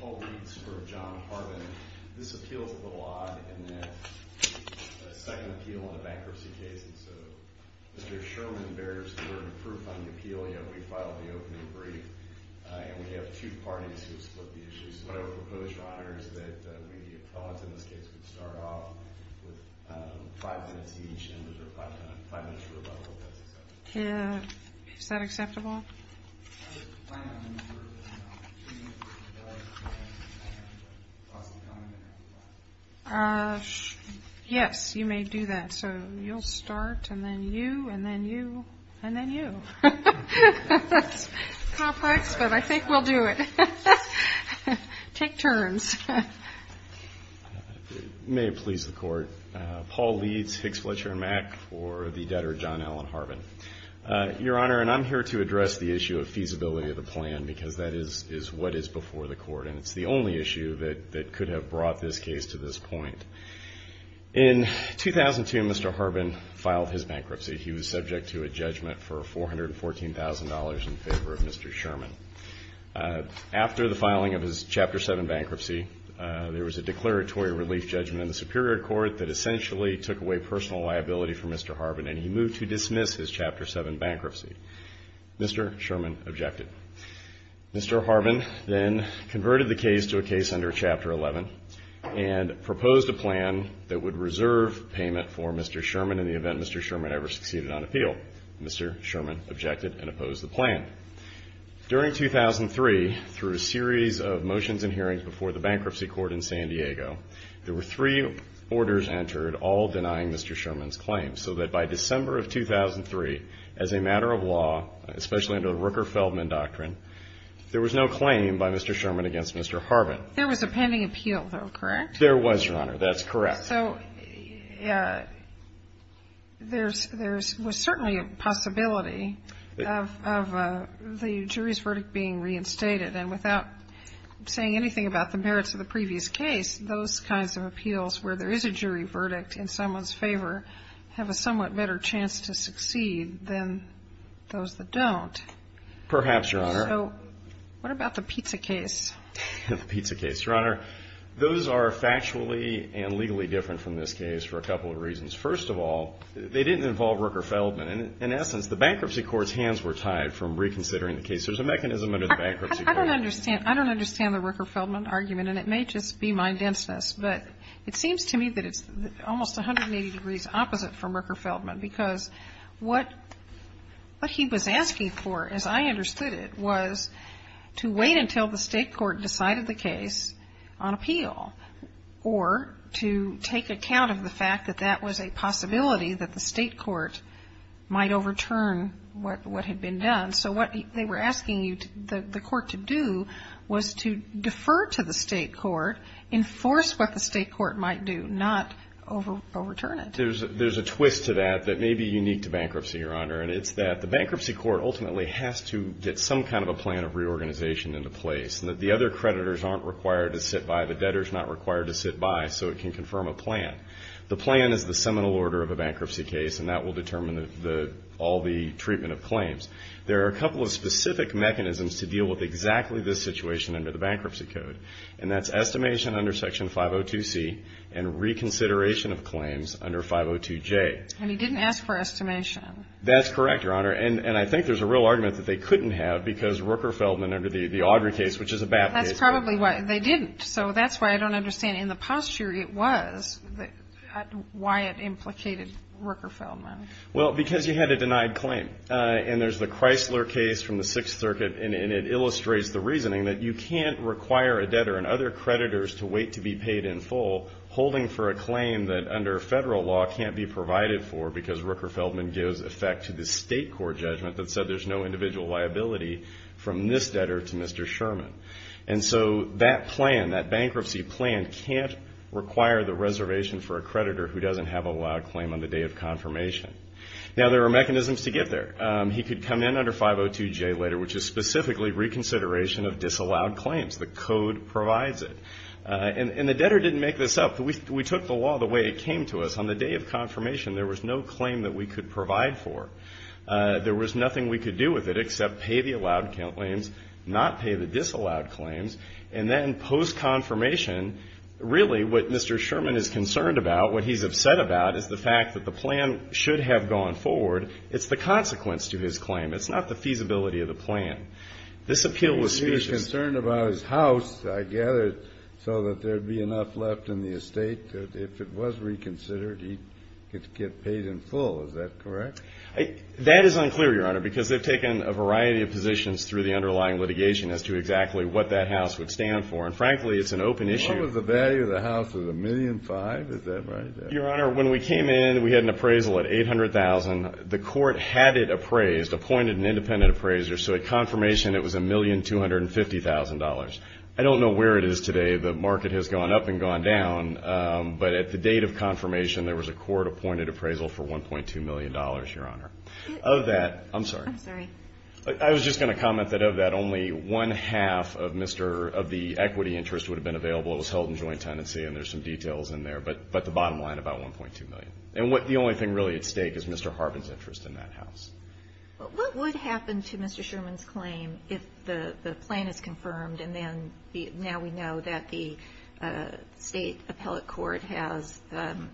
Paul Reeds v. John Harbin Is that acceptable? Yes, you may do that. So, you'll start, and then you, and then you, and then you. That's complex, but I think we'll do it. Take turns. May it please the Court. Paul Reeds, Hicks, Fletcher, and Mack for the debtor, John Allen Harbin. Your Honor, and I'm here to address the issue of feasibility of the plan, because that is what is before the Court, and it's the only issue that could have brought this case to this point. In 2002, Mr. Harbin filed his bankruptcy. He was subject to a judgment for $414,000 in favor of Mr. Sherman. After the filing of his Chapter 7 bankruptcy, there was a declaratory relief judgment in the Superior Court that essentially took away personal liability for Mr. Harbin, and he moved to dismiss his Chapter 7 bankruptcy. Mr. Sherman objected. Mr. Harbin then converted the case to a case under Chapter 11 and proposed a plan that would reserve payment for Mr. Sherman in the event Mr. Sherman ever succeeded on appeal. Mr. Sherman objected and opposed the plan. During 2003, through a series of motions and hearings before the Bankruptcy Court in San Diego, there were three orders entered, all denying Mr. Sherman's claim, so that by December of 2003, as a matter of law, especially under the Rooker-Feldman Doctrine, there was no claim by Mr. Sherman against Mr. Harbin. There was a pending appeal, though, correct? There was, Your Honor. That's correct. So there's certainly a possibility of the jury's verdict being reinstated, and without saying anything about the merits of the previous case, those kinds of appeals where there is a jury verdict in someone's favor have a somewhat better chance to succeed than those that don't. Perhaps, Your Honor. So what about the pizza case? The pizza case. Your Honor, those are factually and legally different from this case for a couple of reasons. First of all, they didn't involve Rooker-Feldman. In essence, the Bankruptcy Court's hands were tied from reconsidering the case. There's a mechanism under the Bankruptcy Court. I don't understand the Rooker-Feldman argument, and it may just be my denseness, but it seems to me that it's almost 180 degrees opposite from Rooker-Feldman because what he was asking for, as I understood it, was to wait until the State court decided the case on appeal or to take account of the fact that that was a possibility that the State court might overturn what had been done. So what they were asking the court to do was to defer to the State court, enforce what the State court might do, not overturn it. There's a twist to that that may be unique to bankruptcy, Your Honor, and it's that the Bankruptcy Court ultimately has to get some kind of a plan of reorganization into place and that the other creditors aren't required to sit by, the debtor's not required to sit by, so it can confirm a plan. The plan is the seminal order of a bankruptcy case, and that will determine all the treatment of claims. There are a couple of specific mechanisms to deal with exactly this situation under the Bankruptcy Code, and that's estimation under Section 502C and reconsideration of claims under 502J. And he didn't ask for estimation. That's correct, Your Honor, and I think there's a real argument that they couldn't have because Rooker-Feldman under the Audrey case, which is a BAP case. That's probably why they didn't, so that's why I don't understand. In the posture it was, why it implicated Rooker-Feldman. Well, because you had a denied claim. And there's the Chrysler case from the Sixth Circuit, and it illustrates the reasoning that you can't require a debtor and other creditors to wait to be paid in full holding for a claim that, under federal law, can't be provided for because Rooker-Feldman gives effect to the state court judgment that said there's no individual liability from this debtor to Mr. Sherman. And so that plan, that bankruptcy plan, can't require the reservation for a creditor who doesn't have a loud claim on the day of confirmation. Now, there are mechanisms to get there. He could come in under 502J later, which is specifically reconsideration of disallowed claims. The code provides it. And the debtor didn't make this up. We took the law the way it came to us. On the day of confirmation, there was no claim that we could provide for. There was nothing we could do with it except pay the allowed claims, not pay the disallowed claims. And then post-confirmation, really what Mr. Sherman is concerned about, what he's upset about is the fact that the plan should have gone forward. It's the consequence to his claim. It's not the feasibility of the plan. This appeal was specious. He was concerned about his house, I gather, so that there would be enough left in the estate. If it was reconsidered, he could get paid in full. Is that correct? That is unclear, Your Honor, because they've taken a variety of positions through the underlying litigation as to exactly what that house would stand for. And frankly, it's an open issue. What was the value of the house? Was it $1.5 million? Is that right? Your Honor, when we came in, we had an appraisal at $800,000. The court had it appraised, appointed an independent appraiser. So at confirmation, it was $1,250,000. I don't know where it is today. The market has gone up and gone down. But at the date of confirmation, there was a court-appointed appraisal for $1.2 million, Your Honor. Of that, I'm sorry. I'm sorry. I was just going to comment that of that, only one-half of the equity interest would have been available. It was held in joint tenancy, and there's some details in there. But the bottom line, about $1.2 million. And the only thing really at stake is Mr. Harbin's interest in that house. What would happen to Mr. Sherman's claim if the plan is confirmed and then now we know that the state appellate court has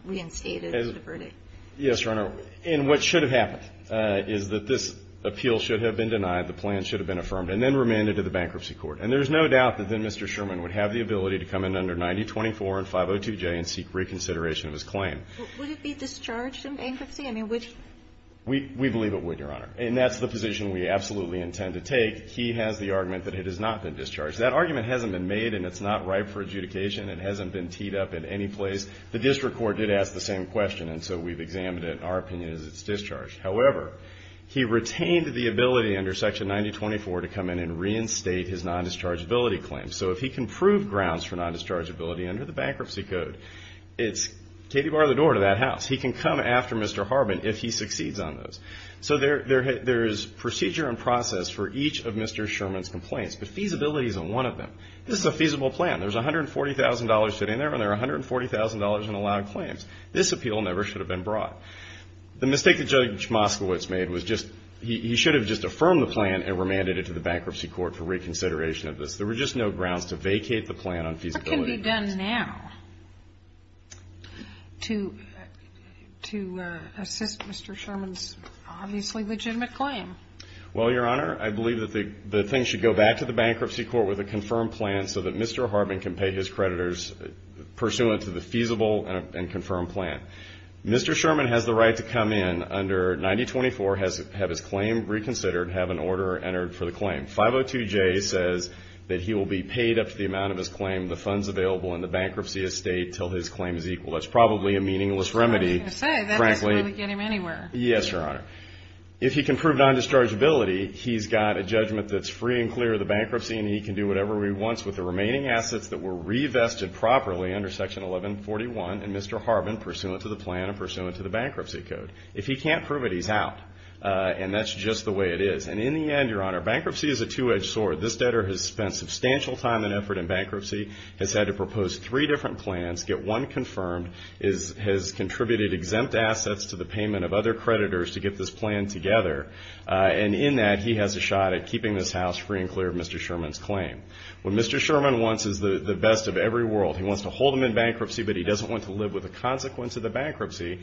reinstated the verdict? Yes, Your Honor. And what should have happened is that this appeal should have been denied, the plan should have been affirmed, and then remanded to the bankruptcy court. And there's no doubt that then Mr. Sherman would have the ability to come in under 9024 and 502J and seek reconsideration of his claim. Would it be discharged in bankruptcy? I mean, would he? We believe it would, Your Honor. And that's the position we absolutely intend to take. He has the argument that it has not been discharged. That argument hasn't been made, and it's not ripe for adjudication. It hasn't been teed up in any place. The district court did ask the same question, and so we've examined it. Our opinion is it's discharged. However, he retained the ability under Section 9024 to come in and reinstate his non-dischargeability claim. So if he can prove grounds for non-dischargeability under the bankruptcy code, it's Katy, bar the door to that house. He can come after Mr. Harbin if he succeeds on those. So there is procedure in process for each of Mr. Sherman's complaints, but feasibility is on one of them. This is a feasible plan. There's $140,000 sitting there, and there are $140,000 in allowed claims. This appeal never should have been brought. The mistake that Judge Moskowitz made was just he should have just affirmed the plan and remanded it to the bankruptcy court for reconsideration of this. There were just no grounds to vacate the plan on feasibility. What can be done now to assist Mr. Sherman's obviously legitimate claim? Well, Your Honor, I believe that the thing should go back to the bankruptcy court with a confirmed plan so that Mr. Harbin can pay his creditors pursuant to the feasible and confirmed plan. Mr. Sherman has the right to come in under 9024, have his claim reconsidered, have an order entered for the claim. 502J says that he will be paid up to the amount of his claim, the funds available, and the bankruptcy estate until his claim is equal. That's probably a meaningless remedy, frankly. I was going to say, that doesn't really get him anywhere. Yes, Your Honor. If he can prove non-dischargeability, he's got a judgment that's free and clear of the bankruptcy, and he can do whatever he wants with the remaining assets that were revested properly under Section 1141 and Mr. Harbin pursuant to the plan and pursuant to the bankruptcy code. If he can't prove it, he's out, and that's just the way it is. And in the end, Your Honor, bankruptcy is a two-edged sword. This debtor has spent substantial time and effort in bankruptcy, has had to propose three different plans, get one confirmed, has contributed exempt assets to the payment of other creditors to get this plan together, and in that he has a shot at keeping this house free and clear of Mr. Sherman's claim. What Mr. Sherman wants is the best of every world. He wants to hold him in bankruptcy, but he doesn't want to live with the consequence of the bankruptcy,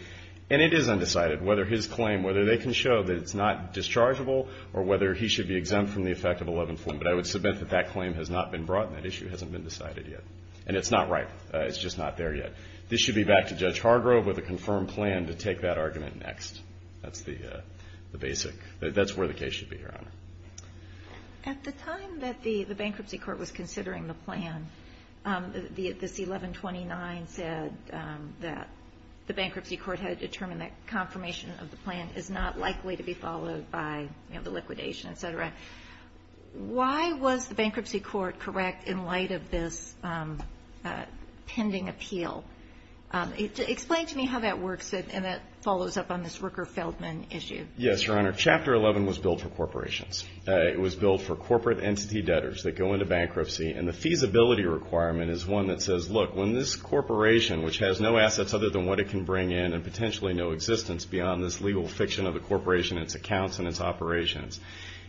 and it is undecided whether his claim, whether they can show that it's not dischargeable or whether he should be exempt from the effect of 1141. But I would submit that that claim has not been brought, and that issue hasn't been decided yet. And it's not right. It's just not there yet. This should be back to Judge Hargrove with a confirmed plan to take that argument That's the basic. That's where the case should be, Your Honor. At the time that the bankruptcy court was considering the plan, this 1129 said that the bankruptcy court had determined that confirmation of the plan is not likely to be followed by the liquidation, et cetera. Why was the bankruptcy court correct in light of this pending appeal? Explain to me how that works, and that follows up on this Rooker-Feldman issue. Yes, Your Honor. Chapter 11 was billed for corporations. It was billed for corporate entity debtors that go into bankruptcy, and the feasibility requirement is one that says, look, when this corporation, which has no assets other than what it can bring in and potentially no existence beyond this legal fiction of the corporation, its accounts, and its operations,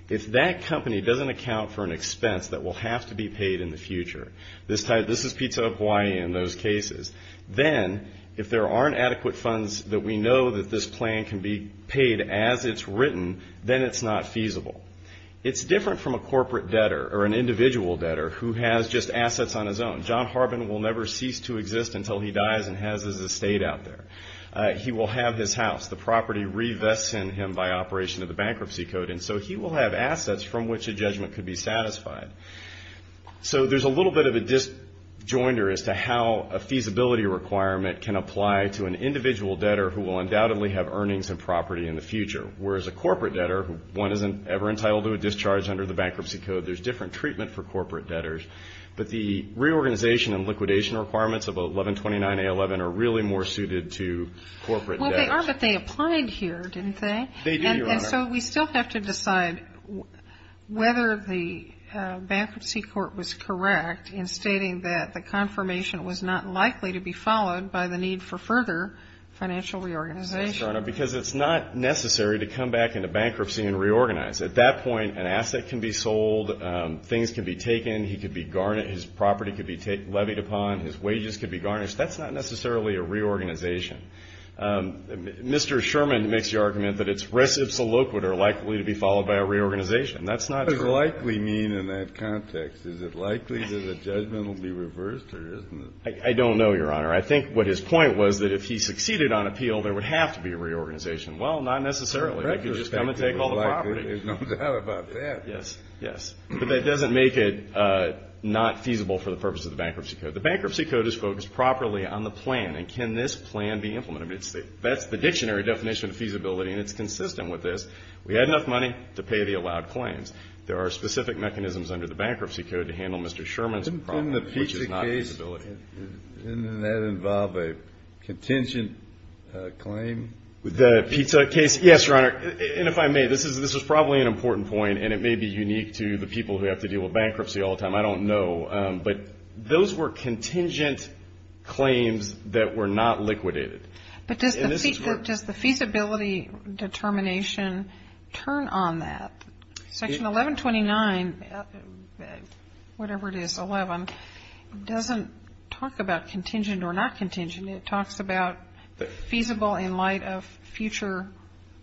if that company doesn't account for an expense that will have to be paid in the future, this is pizza Hawaii in those cases, then if there aren't adequate funds that we know that this plan can be paid as it's written, then it's not feasible. It's different from a corporate debtor or an individual debtor who has just assets on his own. John Harbin will never cease to exist until he dies and has his estate out there. He will have his house. The property revests in him by operation of the bankruptcy code, and so he will have assets from which a judgment could be satisfied. So there's a little bit of a disjoinder as to how a feasibility requirement can apply to an individual debtor who will undoubtedly have earnings and property in the future, whereas a corporate debtor, one isn't ever entitled to a discharge under the bankruptcy code. There's different treatment for corporate debtors, but the reorganization and liquidation requirements of 1129A11 are really more suited to corporate debtors. Well, they are, but they applied here, didn't they? They do, Your Honor. And so we still have to decide whether the bankruptcy court was correct in stating that the confirmation was not likely to be followed by the need for further financial reorganization. Yes, Your Honor, because it's not necessary to come back into bankruptcy and reorganize. At that point, an asset can be sold. Things can be taken. He could be garnished. His property could be levied upon. His wages could be garnished. That's not necessarily a reorganization. Mr. Sherman makes the argument that it's reciprocal or likely to be followed by a reorganization. That's not true. What does likely mean in that context? Is it likely that a judgment will be reversed or isn't it? I don't know, Your Honor. I think what his point was that if he succeeded on appeal, there would have to be a reorganization. Well, not necessarily. He could just come and take all the property. It comes out about that. Yes, yes. But that doesn't make it not feasible for the purpose of the bankruptcy code. The bankruptcy code is focused properly on the plan. And can this plan be implemented? That's the dictionary definition of feasibility, and it's consistent with this. We had enough money to pay the allowed claims. There are specific mechanisms under the bankruptcy code to handle Mr. Sherman's problem, which is not feasibility. Didn't the pizza case, didn't that involve a contention claim? The pizza case? Yes, Your Honor. And if I may, this is probably an important point, and it may be unique to the people who have to deal with bankruptcy all the time. I don't know. But those were contingent claims that were not liquidated. But does the feasibility determination turn on that? Section 1129, whatever it is, 11, doesn't talk about contingent or not contingent. It talks about feasible in light of future,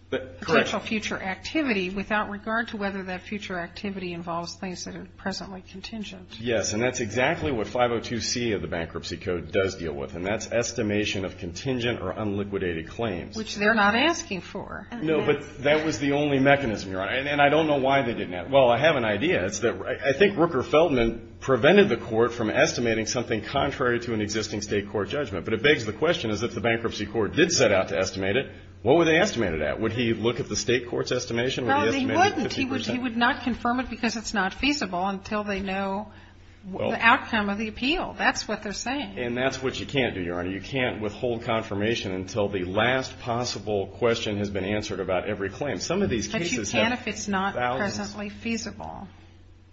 potential future activity, without regard to whether that future activity involves things that are presently contingent. Yes, and that's exactly what 502C of the bankruptcy code does deal with, and that's estimation of contingent or unliquidated claims. Which they're not asking for. No, but that was the only mechanism, Your Honor. And I don't know why they didn't ask. Well, I have an idea. I think Rooker Feldman prevented the court from estimating something contrary to an existing state court judgment. But it begs the question is if the bankruptcy court did set out to estimate it, what would they estimate it at? Would he look at the state court's estimation? No, he wouldn't. He would not confirm it because it's not feasible until they know the outcome of the appeal. That's what they're saying. And that's what you can't do, Your Honor. You can't withhold confirmation until the last possible question has been answered about every claim. Some of these cases have thousands. But you can if it's not presently feasible,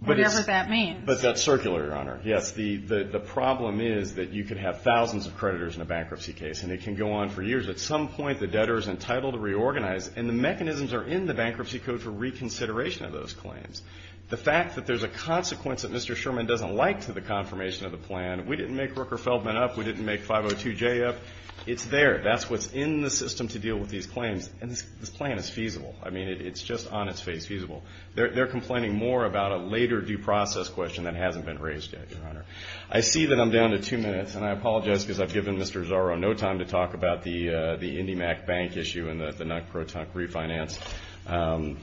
whatever that means. But that's circular, Your Honor. Yes, the problem is that you could have thousands of creditors in a bankruptcy case, and it can go on for years. At some point, the debtor is entitled to reorganize. And the mechanisms are in the bankruptcy code for reconsideration of those claims. The fact that there's a consequence that Mr. Sherman doesn't like to the confirmation of the plan, we didn't make Rooker Feldman up. We didn't make 502J up. It's there. That's what's in the system to deal with these claims. And this plan is feasible. I mean, it's just on its face feasible. They're complaining more about a later due process question that hasn't been raised yet, Your Honor. I see that I'm down to two minutes. And I apologize because I've given Mr. Zorro no time to talk about the IndyMac Bank issue and the non-pro-tunk refinance. I'm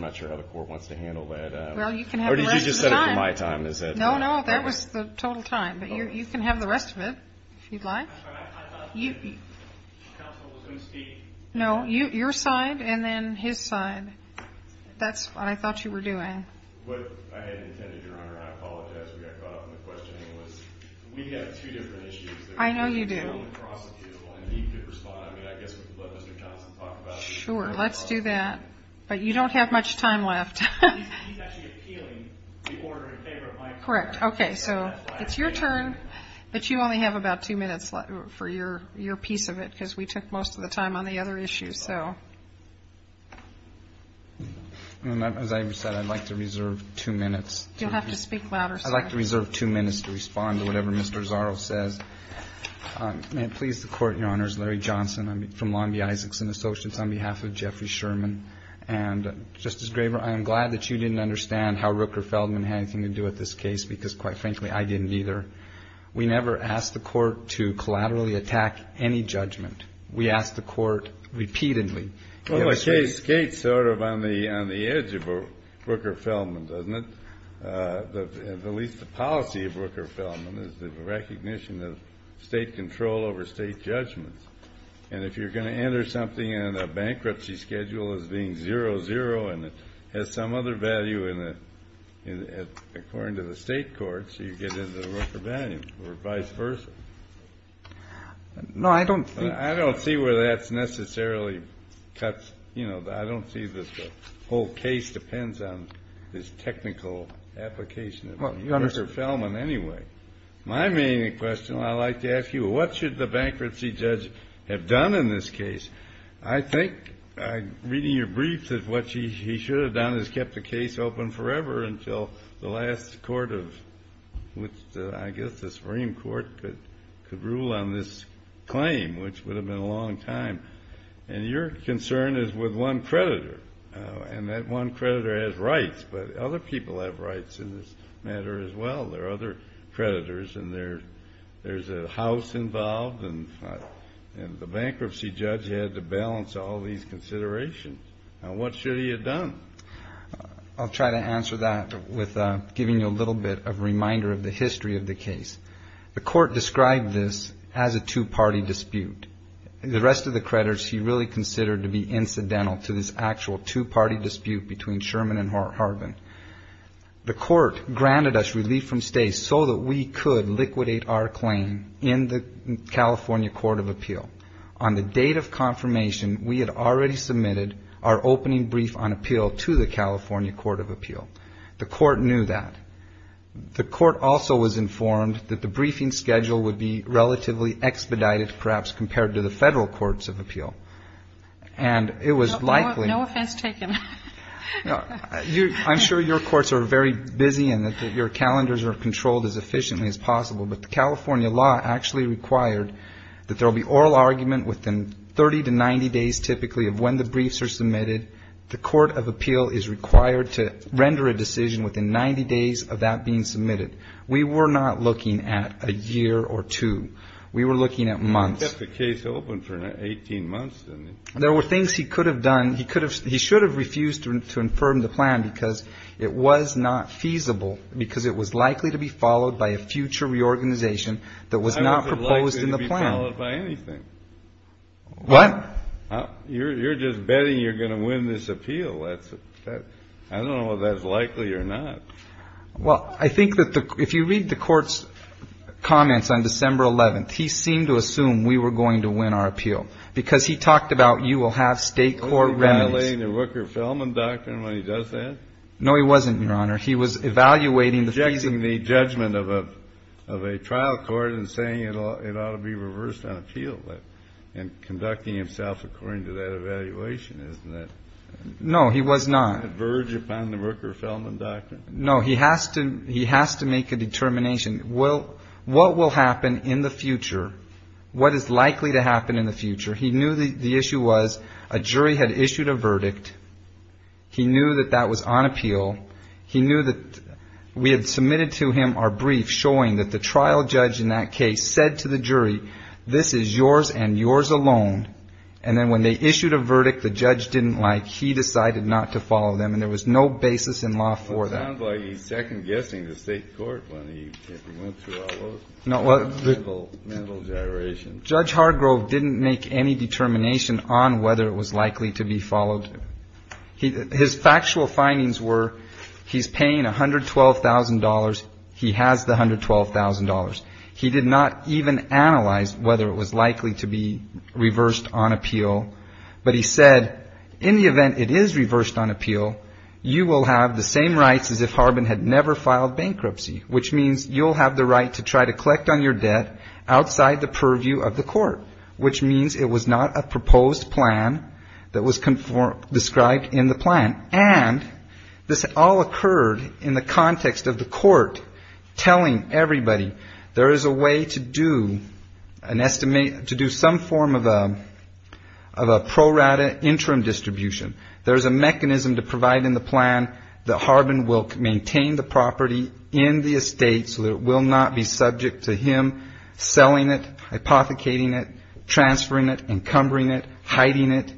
not sure how the Court wants to handle that. Well, you can have the rest of the time. Or did you just set it for my time? No, no. That was the total time. But you can have the rest of it if you'd like. I thought the counsel was going to speak. No, your side and then his side. That's what I thought you were doing. What I had intended, Your Honor, and I apologize, we got caught up in the questioning, was we have two different issues. I know you do. And he could respond. I mean, I guess we could let Mr. Johnson talk about it. Sure. Let's do that. But you don't have much time left. He's actually appealing the order in favor of my opinion. Correct. Okay. So it's your turn, but you only have about two minutes for your piece of it because we took most of the time on the other issues. Well, as I said, I'd like to reserve two minutes. You'll have to speak louder, sir. I'd like to reserve two minutes to respond to whatever Mr. Zaro says. May it please the Court, Your Honors. Larry Johnson. I'm from Long B. Isaacson Associates on behalf of Jeffrey Sherman. And, Justice Graber, I am glad that you didn't understand how Rooker-Feldman had anything to do with this case because, quite frankly, I didn't either. We never asked the Court to collaterally attack any judgment. We asked the Court repeatedly. Well, the case skates sort of on the edge of Rooker-Feldman, doesn't it? At least the policy of Rooker-Feldman is the recognition of state control over state judgments. And if you're going to enter something in a bankruptcy schedule as being zero-zero and it has some other value according to the state courts, you get into the Rooker-Feldman or vice versa. No, I don't think so. I don't see where that's necessarily cut. You know, I don't see that the whole case depends on this technical application of Rooker-Feldman anyway. My main question, I'd like to ask you, what should the bankruptcy judge have done in this case? I think, reading your briefs, that what he should have done is kept the case open forever until the last court of which, I guess, the Supreme Court could rule on this claim, which would have been a long time. And your concern is with one creditor, and that one creditor has rights. But other people have rights in this matter as well. There are other creditors, and there's a house involved, and the bankruptcy judge had to balance all these considerations. Now, what should he have done? I'll try to answer that with giving you a little bit of a reminder of the history of the case. The court described this as a two-party dispute. The rest of the creditors he really considered to be incidental to this actual two-party dispute between Sherman and Harbin. The court granted us relief from stay so that we could liquidate our claim in the California Court of Appeal. On the date of confirmation, we had already submitted our opening brief on appeal to the California Court of Appeal. The court knew that. The court also was informed that the briefing schedule would be relatively expedited, perhaps, compared to the federal courts of appeal. And it was likely — No offense taken. I'm sure your courts are very busy and that your calendars are controlled as efficiently as possible. But the California law actually required that there will be oral argument within 30 to 90 days, typically, of when the briefs are submitted. The court of appeal is required to render a decision within 90 days of that being submitted. We were not looking at a year or two. We were looking at months. He kept the case open for 18 months, didn't he? There were things he could have done. He could have — he should have refused to infirm the plan because it was not feasible, because it was likely to be followed by a future reorganization that was not proposed in the plan. I wasn't likely to be followed by anything. What? You're just betting you're going to win this appeal. I don't know whether that's likely or not. Well, I think that if you read the court's comments on December 11th, he seemed to assume we were going to win our appeal, because he talked about you will have state court remedies. Was he evaluating the Rooker-Feldman doctrine when he does that? No, he wasn't, Your Honor. He was evaluating the — He's objecting the judgment of a trial court and saying it ought to be reversed on appeal and conducting himself according to that evaluation. Isn't that — No, he was not. — a verge upon the Rooker-Feldman doctrine? No, he has to make a determination. What will happen in the future, what is likely to happen in the future — He knew the issue was a jury had issued a verdict. He knew that that was on appeal. He knew that we had submitted to him our brief showing that the trial judge in that case said to the jury, this is yours and yours alone. And then when they issued a verdict the judge didn't like, he decided not to follow them, and there was no basis in law for that. Well, it sounds like he's second-guessing the state court when he went through all those — No, what —— mental gyrations. Judge Hargrove didn't make any determination on whether it was likely to be followed. His factual findings were he's paying $112,000, he has the $112,000. He did not even analyze whether it was likely to be reversed on appeal, but he said in the event it is reversed on appeal, you will have the same rights as if Harbin had never filed bankruptcy, which means you'll have the right to try to collect on your debt outside the purview of the court, which means it was not a proposed plan that was described in the plan. And this all occurred in the context of the court telling everybody there is a way to do some form of a pro rata interim distribution. There is a mechanism to provide in the plan that Harbin will maintain the property in the estate so that it will not be subject to him selling it, hypothecating it, transferring it, encumbering it, hiding it.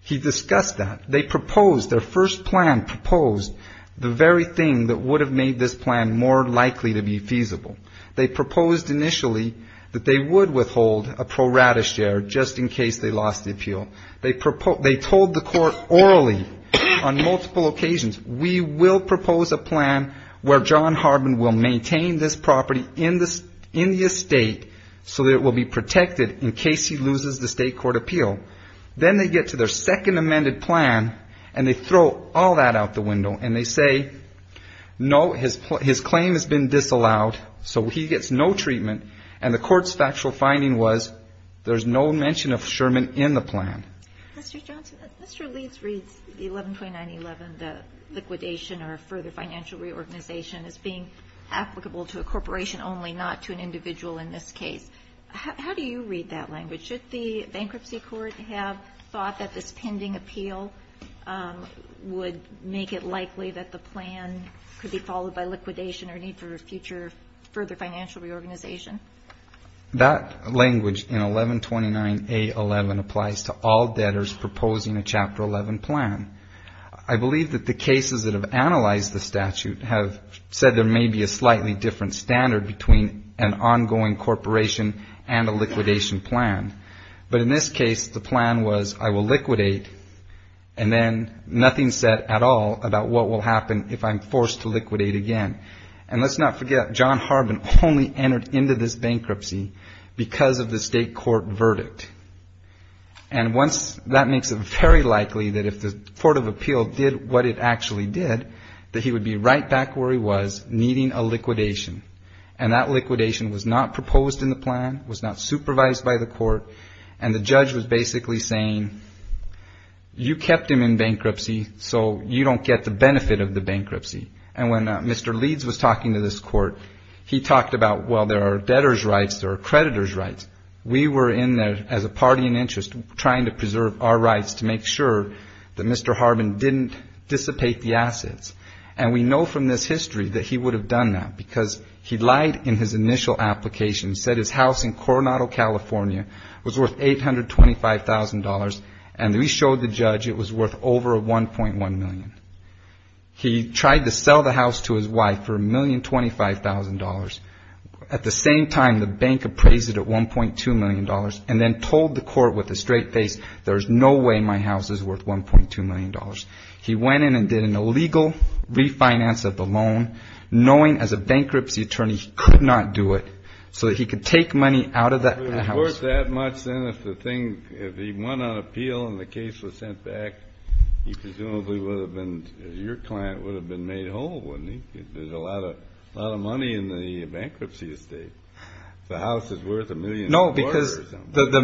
He discussed that. They proposed, their first plan proposed the very thing that would have made this plan more likely to be feasible. They proposed initially that they would withhold a pro rata share just in case they lost the appeal. They told the court orally on multiple occasions, we will propose a plan where John Harbin will maintain this property in the estate so that it will be protected in case he loses the state court appeal. Then they get to their second amended plan, and they throw all that out the window, and they say, no, his claim has been disallowed, so he gets no treatment. And the court's factual finding was there's no mention of Sherman in the plan. Mr. Johnson, Mr. Leeds reads the 112911, the liquidation or further financial reorganization, as being applicable to a corporation only, not to an individual in this case. How do you read that language? Should the bankruptcy court have thought that this pending appeal would make it likely that the plan could be followed by liquidation or need for a future further financial reorganization? That language in 1129A11 applies to all debtors proposing a Chapter 11 plan. I believe that the cases that have analyzed the statute have said there may be a slightly different standard between an ongoing corporation and a liquidation plan. But in this case, the plan was I will liquidate, and then nothing said at all about what will happen if I'm forced to liquidate again. And let's not forget, John Harbin only entered into this bankruptcy because of the state court verdict. And once that makes it very likely that if the court of appeal did what it actually did, that he would be right back where he was, needing a liquidation. And that liquidation was not proposed in the plan, was not supervised by the court, and the judge was basically saying you kept him in bankruptcy so you don't get the benefit of the bankruptcy. And when Mr. Leeds was talking to this court, he talked about, well, there are debtors' rights, there are creditors' rights. We were in there as a party in interest trying to preserve our rights to make sure that Mr. Harbin didn't dissipate the assets. And we know from this history that he would have done that because he lied in his initial application, said his house in Coronado, California was worth $825,000, and we showed the judge it was worth over $1.1 million. He tried to sell the house to his wife for $1,025,000. At the same time, the bank appraised it at $1.2 million and then told the court with a straight face, there's no way my house is worth $1.2 million. He went in and did an illegal refinance of the loan, knowing as a bankruptcy attorney he could not do it, so that he could take money out of the house. If he went on appeal and the case was sent back, presumably your client would have been made whole, wouldn't he? There's a lot of money in the bankruptcy estate. The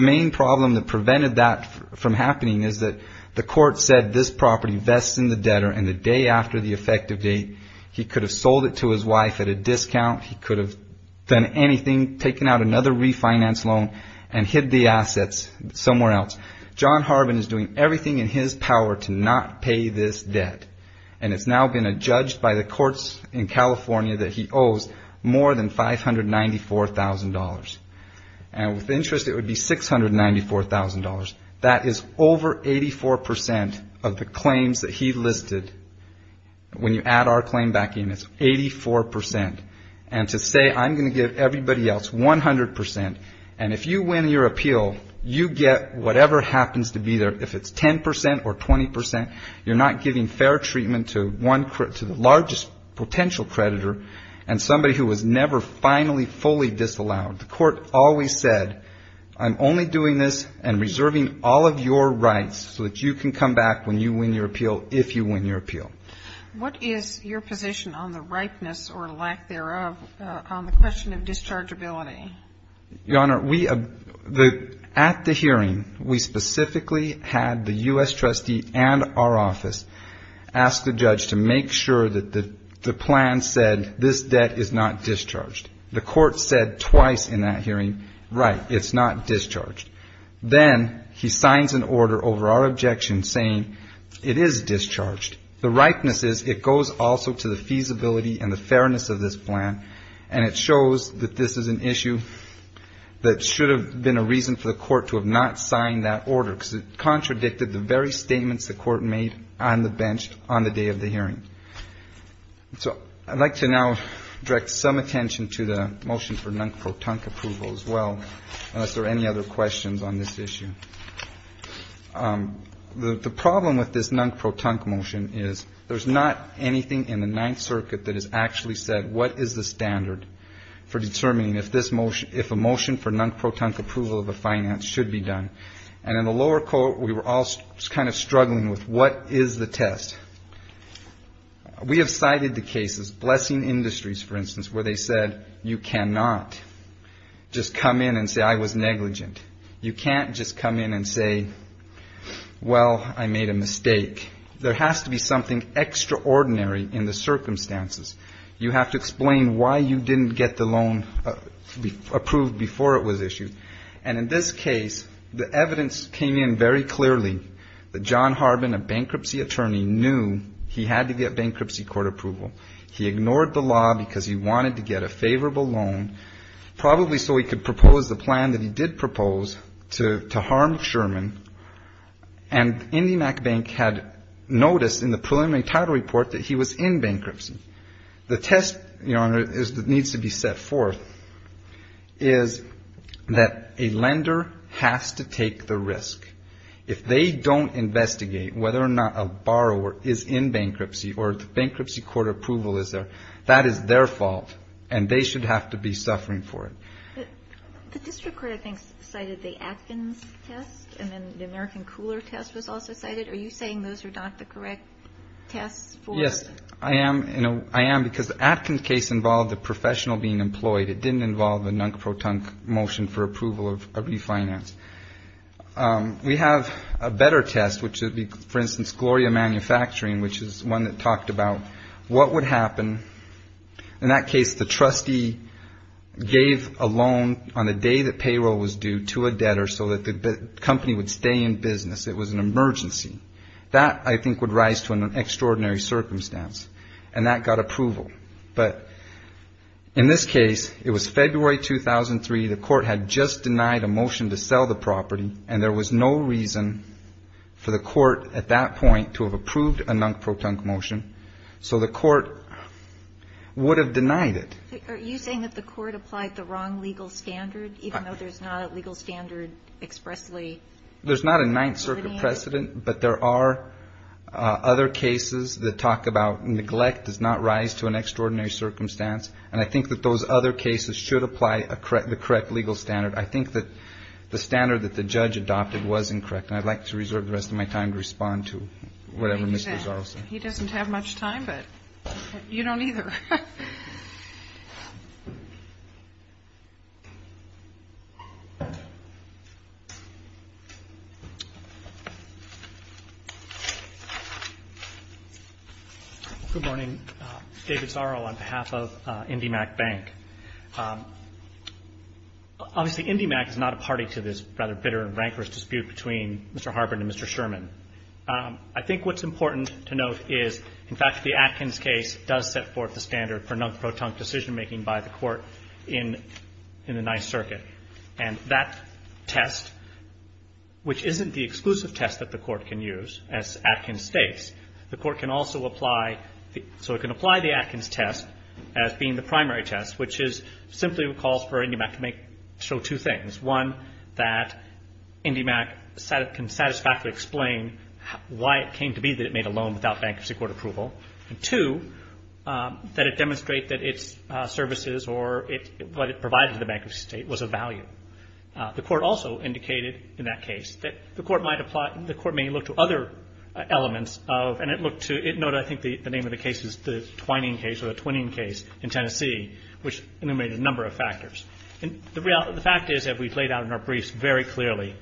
main problem that prevented that from happening is that the court said this property vests in the debtor, and the day after the effective date he could have sold it to his wife at a discount, he could have done anything, taken out another refinance loan and hid the assets somewhere else. John Harbin is doing everything in his power to not pay this debt, and it's now been adjudged by the courts in California that he owes more than $594,000. With interest, it would be $694,000. That is over 84% of the claims that he listed. When you add our claim back in, it's 84%. And to say I'm going to give everybody else 100%, and if you win your appeal, you get whatever happens to be there, if it's 10% or 20%. You're not giving fair treatment to the largest potential creditor and somebody who was never finally fully disallowed. The court always said, I'm only doing this and reserving all of your rights so that you can come back when you win your appeal, if you win your appeal. Your Honor, at the hearing, we specifically had the U.S. trustee and our office ask the judge to make sure that the plan said, this debt is not discharged. The court said twice in that hearing, right, it's not discharged. Then he signs an order over our objection saying it is discharged. The ripeness is it goes also to the feasibility and the fairness of this plan, and it shows that this is an issue that should have been a reason for the court to have not signed that order, because it contradicted the very statements the court made on the bench on the day of the hearing. So I'd like to now direct some attention to the motion for non-protonc approval as well, unless there are any other questions on this issue. The problem with this non-protonc motion is there's not anything in the Ninth Circuit that has actually said what is the standard for determining if a motion for non-protonc approval of a finance should be done. And in the lower court, we were all kind of struggling with what is the test. We have cited the cases, Blessing Industries, for instance, where they said you cannot just come in and say I was negligent. You can't just come in and say, well, I made a mistake. There has to be something extraordinary in the circumstances. You have to explain why you didn't get the loan approved before it was issued. And in this case, the evidence came in very clearly that John Harbin, a bankruptcy attorney, knew he had to get bankruptcy court approval. He ignored the law because he wanted to get a favorable loan, probably so he could propose the plan that he did propose to harm Sherman. And IndyMacBank had noticed in the preliminary title report that he was in bankruptcy. The test, Your Honor, that needs to be set forth is that a lender has to take the risk. If they don't investigate whether or not a borrower is in bankruptcy or the bankruptcy court approval is there, that is their fault, and they should have to be suffering for it. The district court, I think, cited the Atkins test, and then the American Cooler test was also cited. Are you saying those are not the correct tests? Yes, I am. I am, because the Atkins case involved a professional being employed. It didn't involve a nunk-pro-tunk motion for approval of refinance. We have a better test, which would be, for instance, Gloria Manufacturing, which is one that talked about what would happen. In that case, the trustee gave a loan on the day that payroll was due to a debtor so that the company would stay in business. It was an emergency. That, I think, would rise to an extraordinary circumstance, and that got approval. But in this case, it was February 2003. The court had just denied a motion to sell the property, and there was no reason for the court at that point to have approved a nunk-pro-tunk motion. So the court would have denied it. Are you saying that the court applied the wrong legal standard, even though there's not a legal standard expressly? There's not a Ninth Circuit precedent, but there are other cases that talk about neglect does not rise to an extraordinary circumstance, and I think that those other cases should apply the correct legal standard. I think that the standard that the judge adopted was incorrect, and I'd like to reserve the rest of my time to respond to whatever Mr. Zarles said. He doesn't have much time, but you don't either. Good morning. David Zarro on behalf of IndyMac Bank. Obviously, IndyMac is not a party to this rather bitter and rancorous dispute between Mr. Harburn and Mr. Sherman. I think what's important to note is, in fact, the Atkins case does set forth the standard for nunk-pro-tunk decision-making by the court in the Ninth Circuit, and that test, which isn't the exclusive test that the court can use, as Atkins states. The court can also apply the – so it can apply the Atkins test as being the primary test, which is – simply calls for IndyMac to make – show two things. One, that IndyMac can satisfactorily explain why it came to be that it made a loan without bankruptcy court approval. And two, that it demonstrate that its services or what it provided to the bankruptcy state was of value. The court also indicated in that case that the court might apply – the court may look to other elements of – and it looked to – note, I think the name of the case is the Twining case or the Twining case in Tennessee, which enumerated a number of factors. And the fact is that we've laid out in our briefs very clearly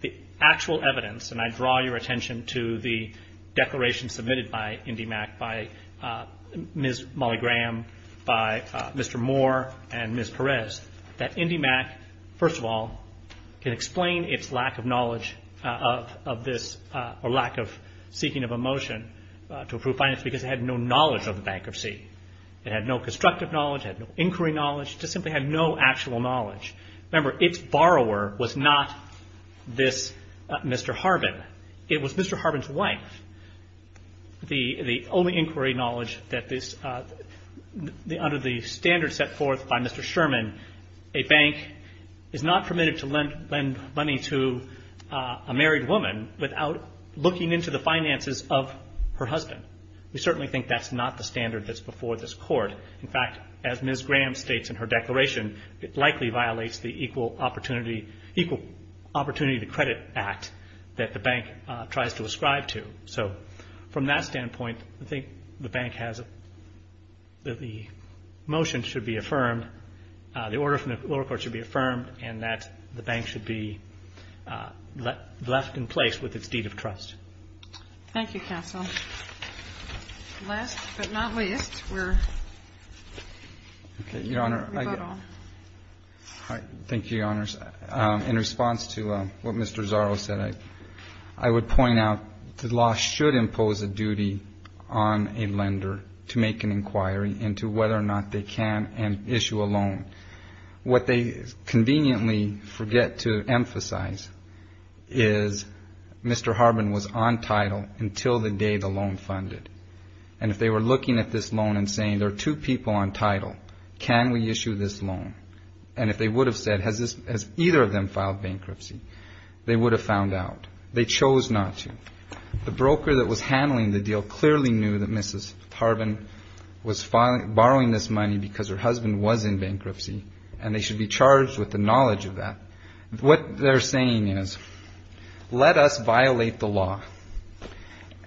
the actual evidence, and I draw your attention to the declaration submitted by IndyMac by Ms. Molly Graham, by Mr. Moore, and Ms. Perez, that IndyMac, first of all, can explain its lack of knowledge of this – or lack of seeking of a motion to approve finance because it had no knowledge of the bankruptcy. It had no constructive knowledge. It had no inquiry knowledge. It just simply had no actual knowledge. Remember, its borrower was not this Mr. Harbin. It was Mr. Harbin. The only inquiry knowledge that this – under the standard set forth by Mr. Sherman, a bank is not permitted to lend money to a married woman without looking into the finances of her husband. We certainly think that's not the standard that's before this court. In fact, as Ms. Graham states in her declaration, it likely violates the Equal Opportunity – Equal Opportunity to Credit Act that the bank tries to ascribe to. So from that standpoint, I think the bank has – that the motion should be affirmed, the order from the lower court should be affirmed, and that the bank should be left in place with its deed of trust. Thank you, counsel. Last but not least, we're – Your Honor, I – Rebuttal. I would point out the law should impose a duty on a lender to make an inquiry into whether or not they can issue a loan. What they conveniently forget to emphasize is Mr. Harbin was on title until the day the loan funded. And if they were looking at this loan and saying there are two people on title, can we issue this loan? And if they would have said, has either of them filed bankruptcy, they would have found out. They chose not to. The broker that was handling the deal clearly knew that Mrs. Harbin was borrowing this money because her husband was in bankruptcy, and they should be charged with the knowledge of that. What they're saying is, let us violate the law,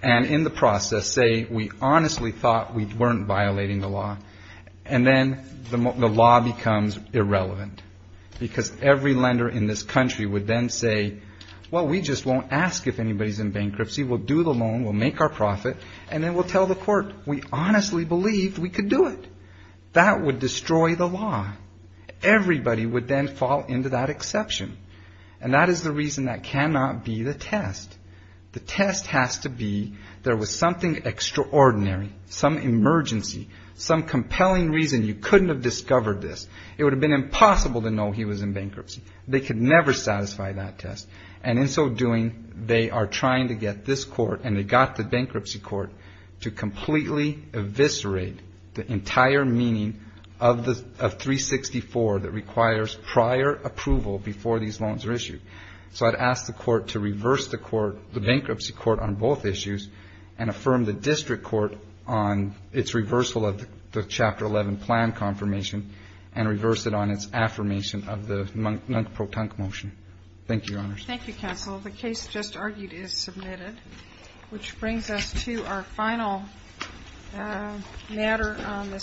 and in the process say we honestly thought we weren't violating the law. And then the law becomes irrelevant, because every lender in this country would then say, well, we just won't ask if anybody's in bankruptcy, we'll do the loan, we'll make our profit, and then we'll tell the court, we honestly believed we could do it. That would destroy the law. Everybody would then fall into that exception. And that is the reason that cannot be the test. The test has to be there was something extraordinary, some emergency, some compelling reason you could never satisfy that test. And in so doing, they are trying to get this court and they got the bankruptcy court to completely eviscerate the entire meaning of 364 that requires prior approval before these loans are issued. So I'd ask the court to reverse the court, the bankruptcy court on both issues, and affirm the district court on its reversal of the Chapter 11 plan confirmation, and reverse it on its final protonc motion. Thank you, Your Honors.